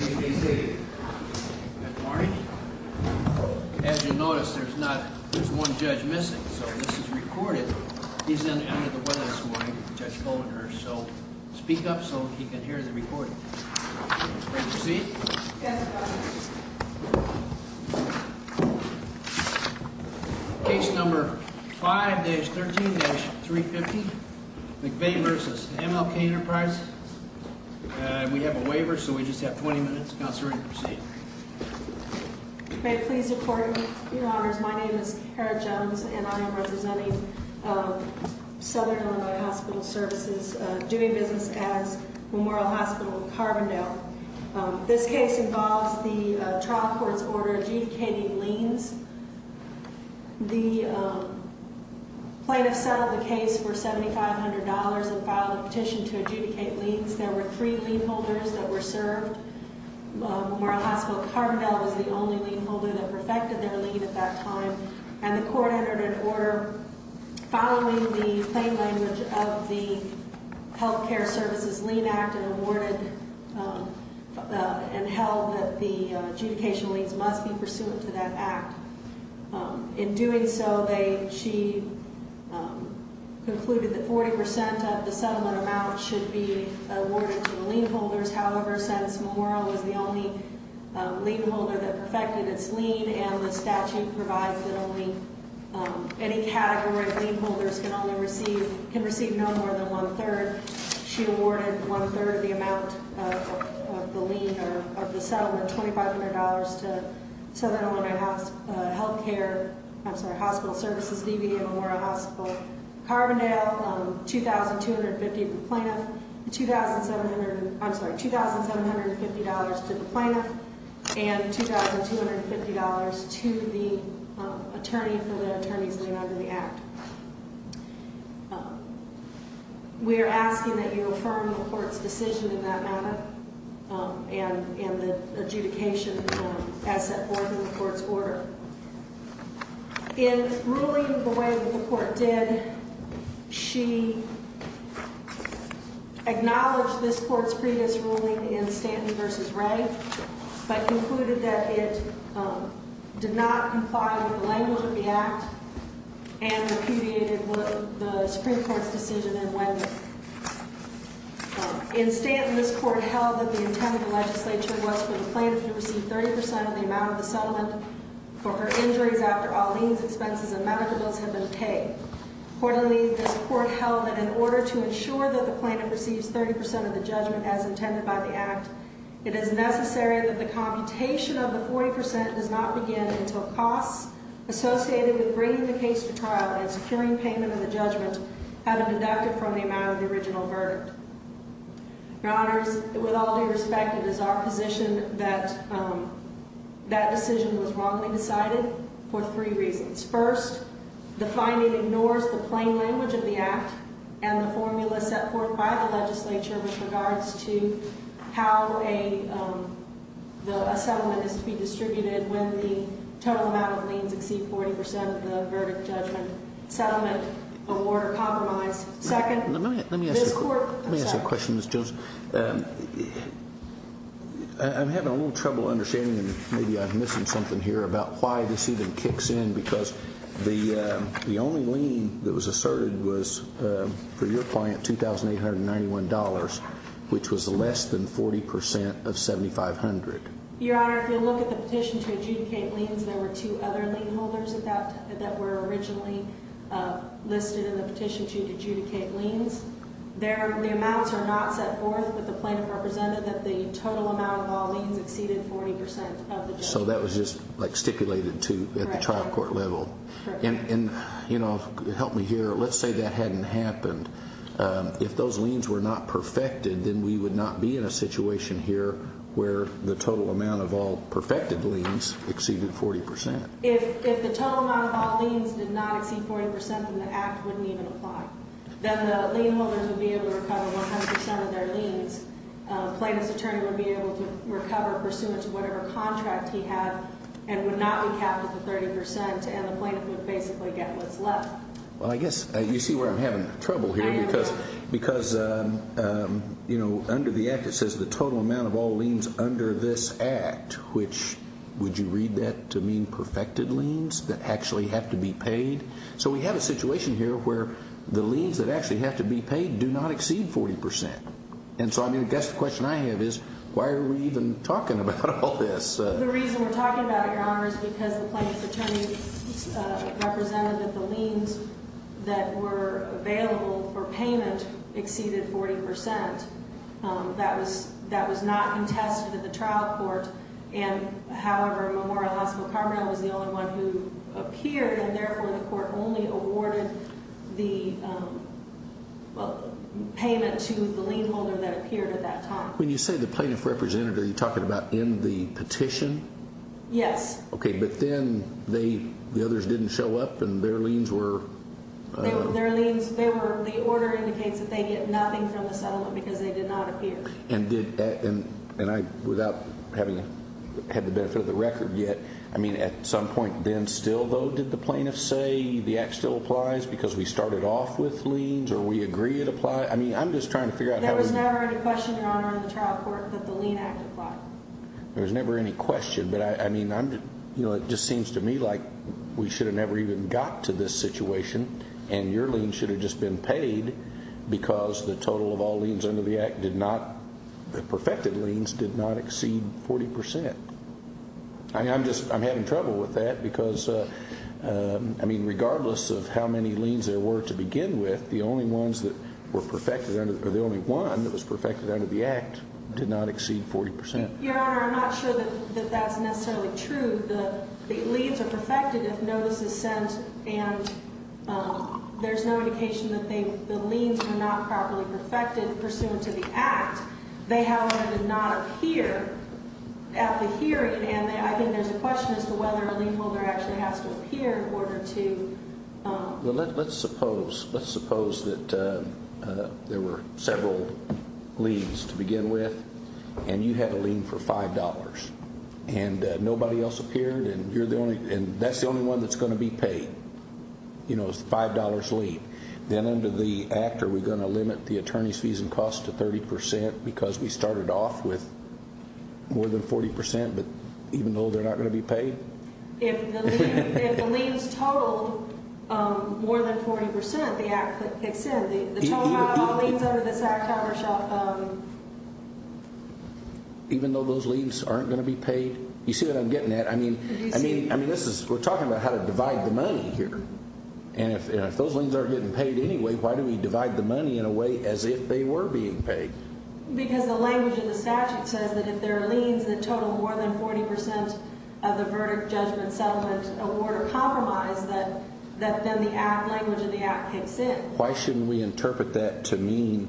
As you notice, there's one judge missing, so this is recorded. He's in under the weather this morning, Judge Goldner, so speak up so he can hear the recording. Please proceed. Case number 5-13-350, McVey v. M.L.K. Enterprises. We have a waiver, so we just have 20 minutes. Counselor, you can proceed. May it please the Court, Your Honors, my name is Kara Jones, and I am representing Southern Illinois Hospital Services, doing business as Memorial Hospital of Carbondale. This case involves the trial court's order adjudicating liens. The plaintiff settled the case for $7,500 and filed a petition to adjudicate liens. There were three lien holders that were served. Memorial Hospital of Carbondale was the only lien holder that perfected their lien at that time, and the court entered an order following the plain language of the Health Care Services Lien Act and awarded and held that the adjudication liens must be pursuant to that act. In doing so, she concluded that 40% of the settlement amount should be awarded to the lien holders. However, since Memorial was the only lien holder that perfected its lien and the statute provides that any category of lien holders can receive no more than one-third, she awarded one-third of the amount of the settlement, $2,500, to Southern Illinois Hospital Services, DVM Memorial Hospital of Carbondale, $2,750 to the plaintiff, and $2,250 to the attorney for the attorney's lien under the act. We are asking that you affirm the court's decision in that matter and the adjudication as set forth in the court's order. In ruling the way that the court did, she acknowledged this court's previous ruling in Stanton v. Ray but concluded that it did not comply with the language of the act and repudiated the Supreme Court's decision in Wendler. In Stanton, this court held that the intent of the legislature was for the plaintiff to receive 30% of the amount of the settlement for her injuries after all liens, expenses, and medical bills had been paid. Accordingly, this court held that in order to ensure that the plaintiff receives 30% of the judgment as intended by the act, it is necessary that the computation of the 40% does not begin until costs associated with bringing the case to trial and securing payment of the judgment have been deducted from the amount of the original verdict. Your Honors, with all due respect, it is our position that that decision was wrongly decided for three reasons. First, the finding ignores the plain language of the act and the formula set forth by the legislature with regards to how a settlement is to be distributed when the total amount of liens exceed 40% of the verdict judgment settlement award or compromise. Let me ask you a question, Ms. Jones. I'm having a little trouble understanding and maybe I'm missing something here about why this even kicks in because the only lien that was asserted was for your client $2,891, which was less than 40% of $7,500. Your Honor, if you look at the petition to adjudicate liens, there were two other lien holders that were originally listed in the petition to adjudicate liens. The amounts are not set forth, but the plaintiff represented that the total amount of all liens exceeded 40% of the judgment. So that was just stipulated at the trial court level. Correct. Help me here. Let's say that hadn't happened. If those liens were not perfected, then we would not be in a situation here where the total amount of all perfected liens exceeded 40%. If the total amount of all liens did not exceed 40% and the act wouldn't even apply, then the lien holders would be able to recover 100% of their liens. The plaintiff's attorney would be able to recover pursuant to whatever contract he had and would not be capped at the 30% and the plaintiff would basically get what's left. Well, I guess you see where I'm having trouble here because under the act it says the total amount of all liens under this act, which would you read that to mean perfected liens that actually have to be paid? So we have a situation here where the liens that actually have to be paid do not exceed 40%. And so I guess the question I have is why are we even talking about all this? The reason we're talking about it, Your Honor, is because the plaintiff's attorney represented that the liens that were available for payment exceeded 40%. When you say the plaintiff represented, are you talking about in the petition? Yes. Okay, but then the others didn't show up and their liens were... The order indicates that they get nothing from the settlement because they did not appear. And without having had the benefit of the record yet, I mean, at some point then still, though, did the plaintiff say the act still applies because we started off with liens or we agree it applies? I mean, I'm just trying to figure out how... There was never any question, Your Honor, on the trial court that the lien act applied. There was never any question. But, I mean, it just seems to me like we should have never even got to this situation and your lien should have just been paid because the total of all liens under the act did not, the perfected liens, did not exceed 40%. I mean, I'm just, I'm having trouble with that because, I mean, regardless of how many liens there were to begin with, the only ones that were perfected under, or the only one that was perfected under the act did not exceed 40%. Your Honor, I'm not sure that that's necessarily true. The liens are perfected if notice is sent, and there's no indication that the liens are not properly perfected pursuant to the act. They, however, did not appear at the hearing, and I think there's a question as to whether a lien holder actually has to appear in order to... And that's the only one that's going to be paid. You know, it's a $5 lien. Then under the act, are we going to limit the attorney's fees and costs to 30% because we started off with more than 40% but even though they're not going to be paid? If the liens total more than 40%, the act kicks in. The total amount of all liens under this act, Your Honor, shall... You see what I'm getting at? I mean, this is, we're talking about how to divide the money here. And if those liens aren't getting paid anyway, why do we divide the money in a way as if they were being paid? Because the language of the statute says that if there are liens that total more than 40% of the verdict, judgment, settlement, award, or compromise, that then the language of the act kicks in. Why shouldn't we interpret that to mean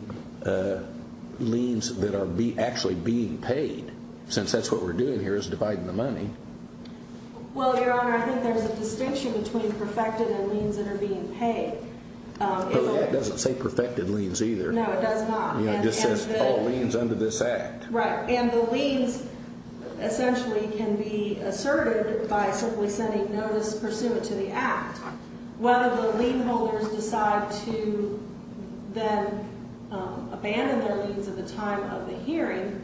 liens that are actually being paid since that's what we're doing here is dividing the money? Well, Your Honor, I think there's a distinction between perfected and liens that are being paid. But that doesn't say perfected liens either. No, it does not. It just says all liens under this act. Right. And the liens essentially can be asserted by simply sending notice pursuant to the act. Whether the lien holders decide to then abandon their liens at the time of the hearing,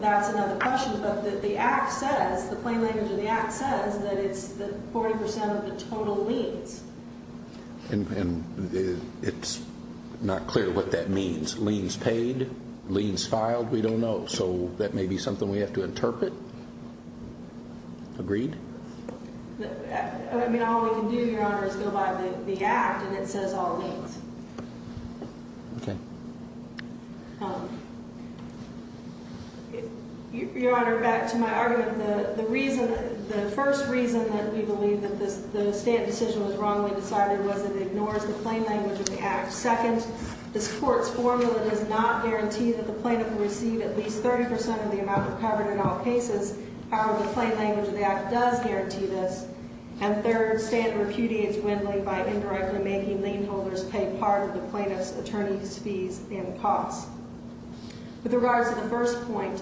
that's another question. But the act says, the plain language of the act says that it's the 40% of the total liens. And it's not clear what that means. Is liens paid? Liens filed? We don't know. So that may be something we have to interpret. Agreed? I mean, all we can do, Your Honor, is go by the act, and it says all liens. Okay. Your Honor, back to my argument, the first reason that we believe that the stamp decision was wrongly decided was that it ignores the plain language of the act. Second, this Court's formula does not guarantee that the plaintiff will receive at least 30% of the amount recovered in all cases. However, the plain language of the act does guarantee this. And third, standard repudiates Wendling by indirectly making lien holders pay part of the plaintiff's attorney's fees and costs. With regards to the first point,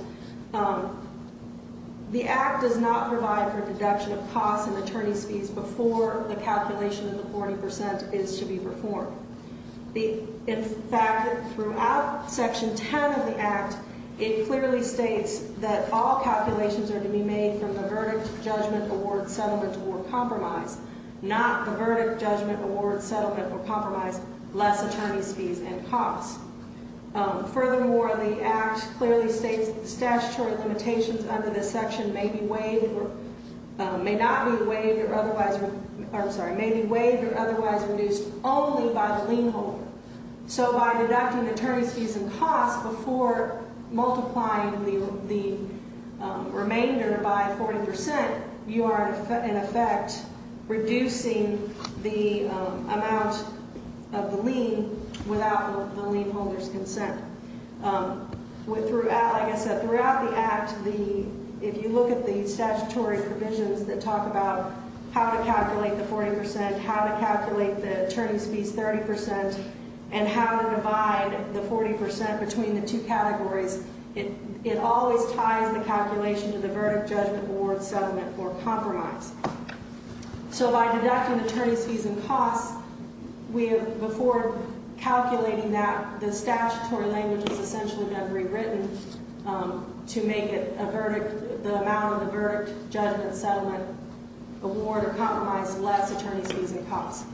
the act does not provide for a deduction of costs and attorney's fees before the calculation of the 40% is to be performed. In fact, throughout Section 10 of the act, it clearly states that all calculations are to be made from the verdict, judgment, award, settlement, or compromise, not the verdict, judgment, award, settlement, or compromise, less attorney's fees and costs. Furthermore, the act clearly states that the statutory limitations under this section may be waived or otherwise reduced only by the lien holder. So by deducting attorney's fees and costs before multiplying the remainder by 40%, you are in effect reducing the amount of the lien without the lien holder's consent. Like I said, throughout the act, if you look at the statutory provisions that talk about how to calculate the 40%, how to calculate the attorney's fees 30%, and how to divide the 40% between the two categories, it always ties the calculation to the verdict, judgment, award, settlement, or compromise. So by deducting attorney's fees and costs before calculating that, the statutory language has essentially been rewritten to make the amount of the verdict, judgment, settlement, award, or compromise less attorney's fees and costs.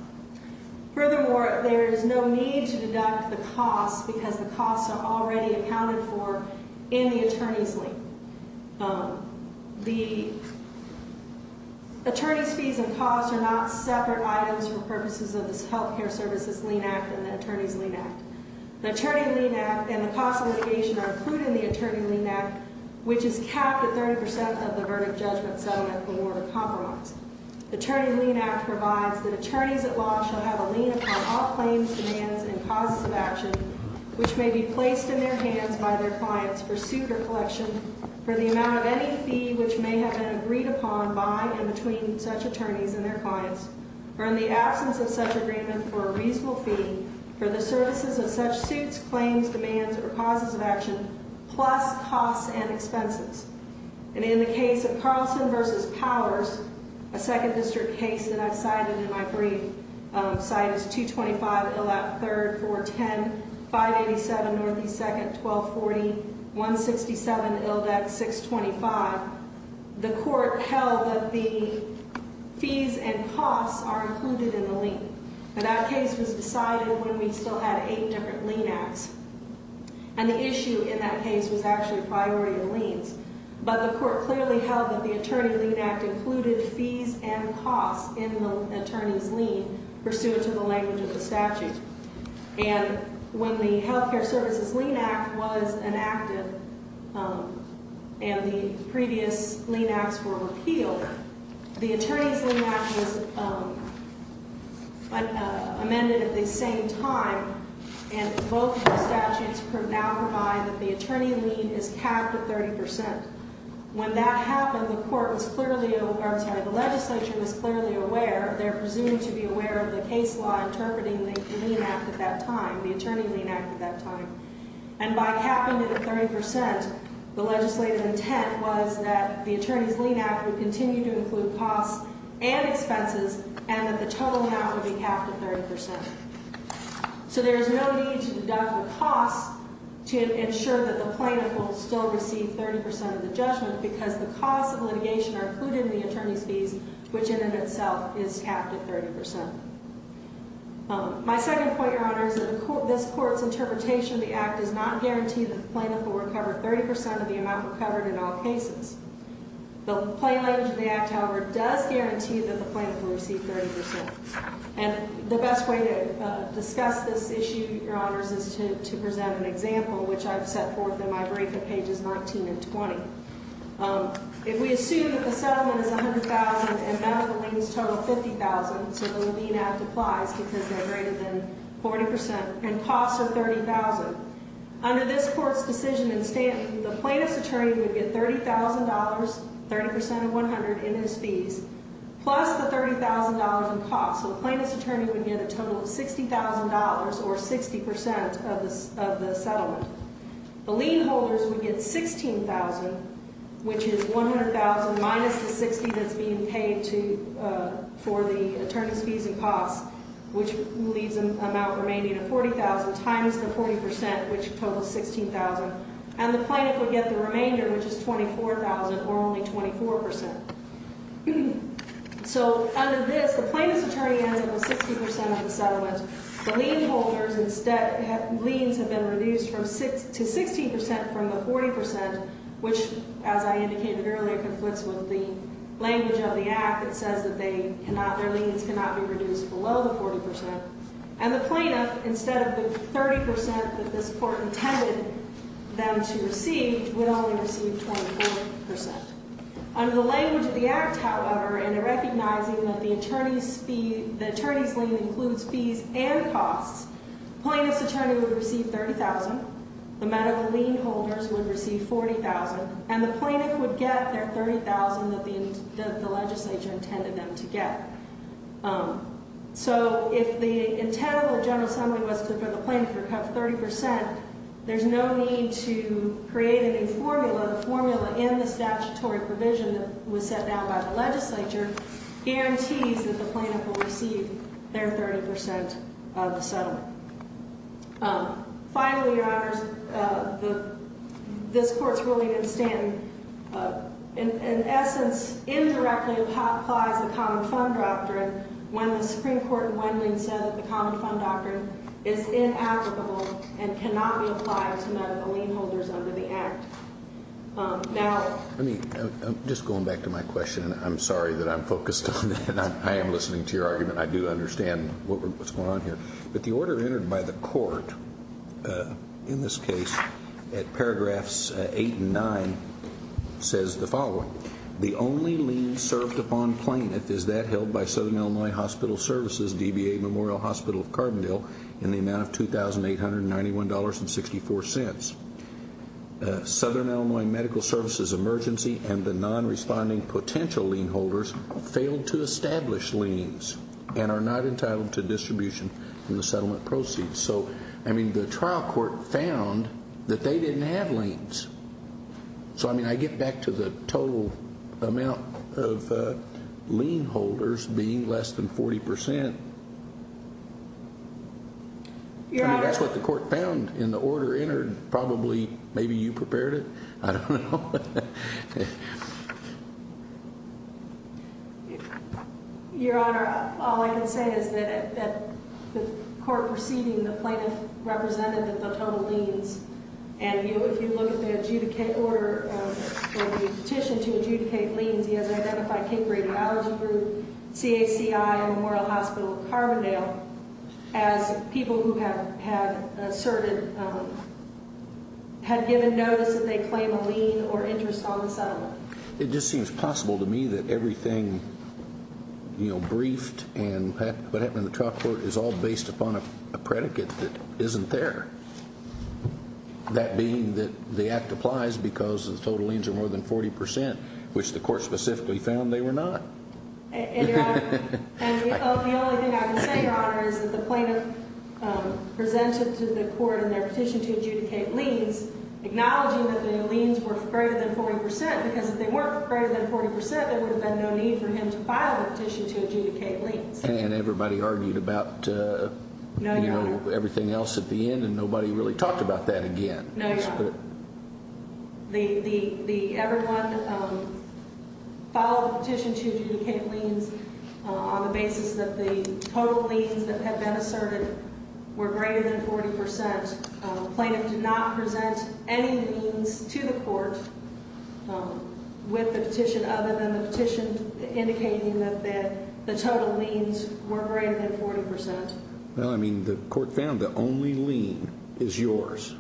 Furthermore, there is no need to deduct the costs because the costs are already accounted for in the attorney's lien. The attorney's fees and costs are not separate items for purposes of this Health Care Services Lien Act and the Attorney's Lien Act. The Attorney Lien Act and the cost of litigation are included in the Attorney Lien Act, which is capped at 30% of the verdict, judgment, settlement, award, or compromise. The Attorney Lien Act provides that attorneys at law shall have a lien upon all claims, demands, and causes of action, which may be placed in their hands by their clients for suit or collection, for the amount of any fee which may have been agreed upon by and between such attorneys and their clients, or in the absence of such agreement for a reasonable fee, for the services of such suits, claims, demands, or causes of action, plus costs and expenses. And in the case of Carlson v. Powers, a Second District case that I've cited in my brief, cited 225 Ildek, 3rd, 410, 587 Northeast 2nd, 1240, 167 Ildek, 625, the court held that the fees and costs are included in the lien. But that case was decided when we still had eight different lien acts. And the issue in that case was actually priority of liens. But the court clearly held that the Attorney Lien Act included fees and costs in the attorney's lien pursuant to the language of the statute. And when the Health Care Services Lien Act was enacted and the previous lien acts were repealed, the Attorney's Lien Act was amended at the same time. And both of the statutes now provide that the attorney lien is capped at 30%. When that happened, the court was clearly, or I'm sorry, the legislature was clearly aware, they're presumed to be aware of the case law interpreting the lien act at that time, the Attorney Lien Act at that time. And by capping it at 30%, the legislative intent was that the Attorney's Lien Act would continue to include costs and expenses, and that the total amount would be capped at 30%. So there is no need to deduct the costs to ensure that the plaintiff will still receive 30% of the judgment, because the costs of litigation are included in the attorney's fees, which in and of itself is capped at 30%. My second point, Your Honor, is that this court's interpretation of the act does not guarantee that the plaintiff will recover 30% of the amount recovered in all cases. The plain language of the act, however, does guarantee that the plaintiff will receive 30%. And the best way to discuss this issue, Your Honors, is to present an example, which I've set forth in my brief at pages 19 and 20. If we assume that the settlement is $100,000 and medical liens total $50,000, so the lien act applies because they're greater than 40%, and costs are $30,000. Under this court's decision, the plaintiff's attorney would get $30,000, 30% of $100,000 in his fees, plus the $30,000 in costs. So the plaintiff's attorney would get a total of $60,000, or 60% of the settlement. The lien holders would get $16,000, which is $100,000 minus the $60,000 that's being paid for the attorney's fees and costs, which leaves an amount remaining at $40,000, times the 40%, which totals $16,000. And the plaintiff would get the remainder, which is $24,000, or only 24%. So under this, the plaintiff's attorney has only 60% of the settlement. The lien holders, instead, liens have been reduced to 16% from the 40%, which, as I indicated earlier, conflicts with the language of the act. It says that their liens cannot be reduced below the 40%. And the plaintiff, instead of the 30% that this court intended them to receive, would only receive 24%. Under the language of the act, however, and in recognizing that the attorney's lien includes fees and costs, the plaintiff's attorney would receive $30,000, the medical lien holders would receive $40,000, and the plaintiff would get their $30,000 that the legislature intended them to get. So if the intent of the General Assembly was for the plaintiff to recover 30%, there's no need to create a new formula. The formula in the statutory provision that was set down by the legislature guarantees that the plaintiff will receive their 30% of the settlement. Finally, Your Honors, this Court's ruling in Stanton, in essence, indirectly applies the common fund doctrine when the Supreme Court in Wendland said that the common fund doctrine is inapplicable and cannot be applied to medical lien holders under the act. Now, I mean, just going back to my question, I'm sorry that I'm focused on that. I am listening to your argument. I do understand what's going on here. But the order entered by the Court in this case at paragraphs 8 and 9 says the following. The only lien served upon plaintiff is that held by Southern Illinois Hospital Services, DBA Memorial Hospital of Carbondale, in the amount of $2,891.64. Southern Illinois Medical Services Emergency and the non-responding potential lien holders failed to establish liens and are not entitled to distribution in the settlement proceeds. So, I mean, the trial court found that they didn't have liens. So, I mean, I get back to the total amount of lien holders being less than 40%. I mean, that's what the court found in the order entered. Probably, maybe you prepared it. I don't know. Your Honor, all I can say is that the court proceeding, the plaintiff represented the total liens. And if you look at the adjudicate order, the petition to adjudicate liens, he has identified King Creek Allergy Group, CACI, and Memorial Hospital of Carbondale as people who have asserted, had given notice that they claim a lien or interest on the settlement. It just seems possible to me that everything, you know, briefed and what happened in the trial court is all based upon a predicate that isn't there. That being that the act applies because the total liens are more than 40%, which the court specifically found they were not. And, Your Honor, the only thing I can say, Your Honor, is that the plaintiff presented to the court in their petition to adjudicate liens, acknowledging that the liens were greater than 40%, because if they weren't greater than 40%, there would have been no need for him to file a petition to adjudicate liens. And everybody argued about, you know, everything else at the end, and nobody really talked about that again. No, Your Honor. The everyone filed a petition to adjudicate liens on the basis that the total liens that had been asserted were greater than 40%. The plaintiff did not present any liens to the court with the petition, other than the petition indicating that the total liens were greater than 40%. Well, I mean, the court found the only lien is yours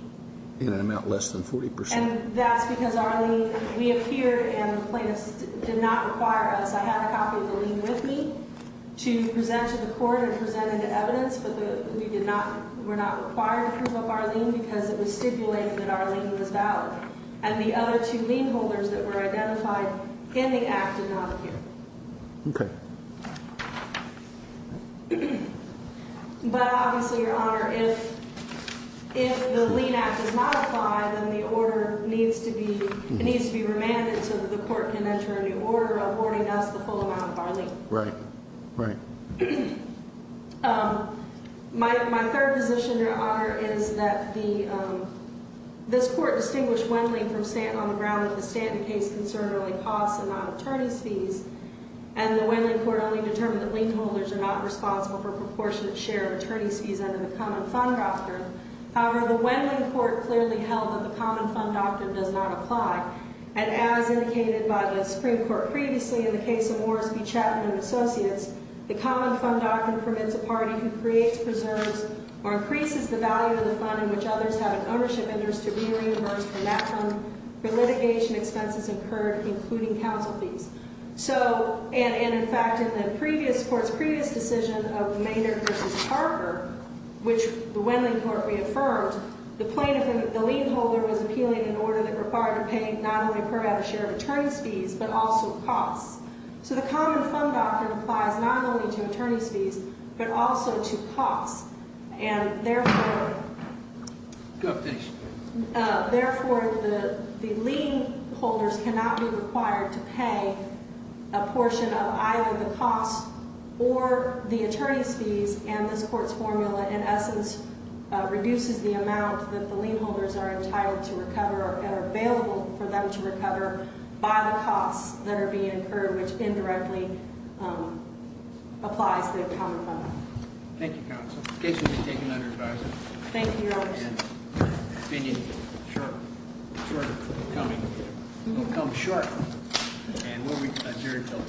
in an amount less than 40%. And that's because our lien, we appear, and the plaintiff did not require us. I had a copy of the lien with me to present to the court and present it to evidence, but we did not, were not required to prove up our lien because it was stipulated that our lien was valid. And the other two lien holders that were identified in the act did not appear. Okay. But obviously, Your Honor, if the lien act does not apply, then the order needs to be remanded so that the court can enter a new order awarding us the full amount of our lien. Right. Right. My third position, Your Honor, is that this court distinguished Wendling from Stanton on the ground that the Stanton case concern only costs and not attorney's fees, and the Wendling court only determined that lien holders are not responsible for a proportionate share of attorney's fees under the common fund doctrine. However, the Wendling court clearly held that the common fund doctrine does not apply. And as indicated by the Supreme Court previously in the case of Orsby, Chapman, and Associates, the common fund doctrine permits a party who creates, preserves, or increases the value of the fund in which others have an ownership interest to be reimbursed from that fund for litigation expenses incurred, including counsel fees. So, and in fact, in the previous court's previous decision of Maynard v. Harper, which the Wendling court reaffirmed, the plaintiff, the lien holder, was appealing an order that required to pay not only a fair share of attorney's fees, but also costs. So the common fund doctrine applies not only to attorney's fees, but also to costs. And therefore, therefore, the lien holders cannot be required to pay a portion of either the costs or the attorney's fees. And this court's formula, in essence, reduces the amount that the lien holders are entitled to recover and are available for them to recover by the costs that are being incurred, which indirectly applies to the common fund. Thank you, counsel. In case you need to take another advice. Thank you, Your Honor. The opinion shortcoming will come short and will be adjourned until 10 o'clock. All rise.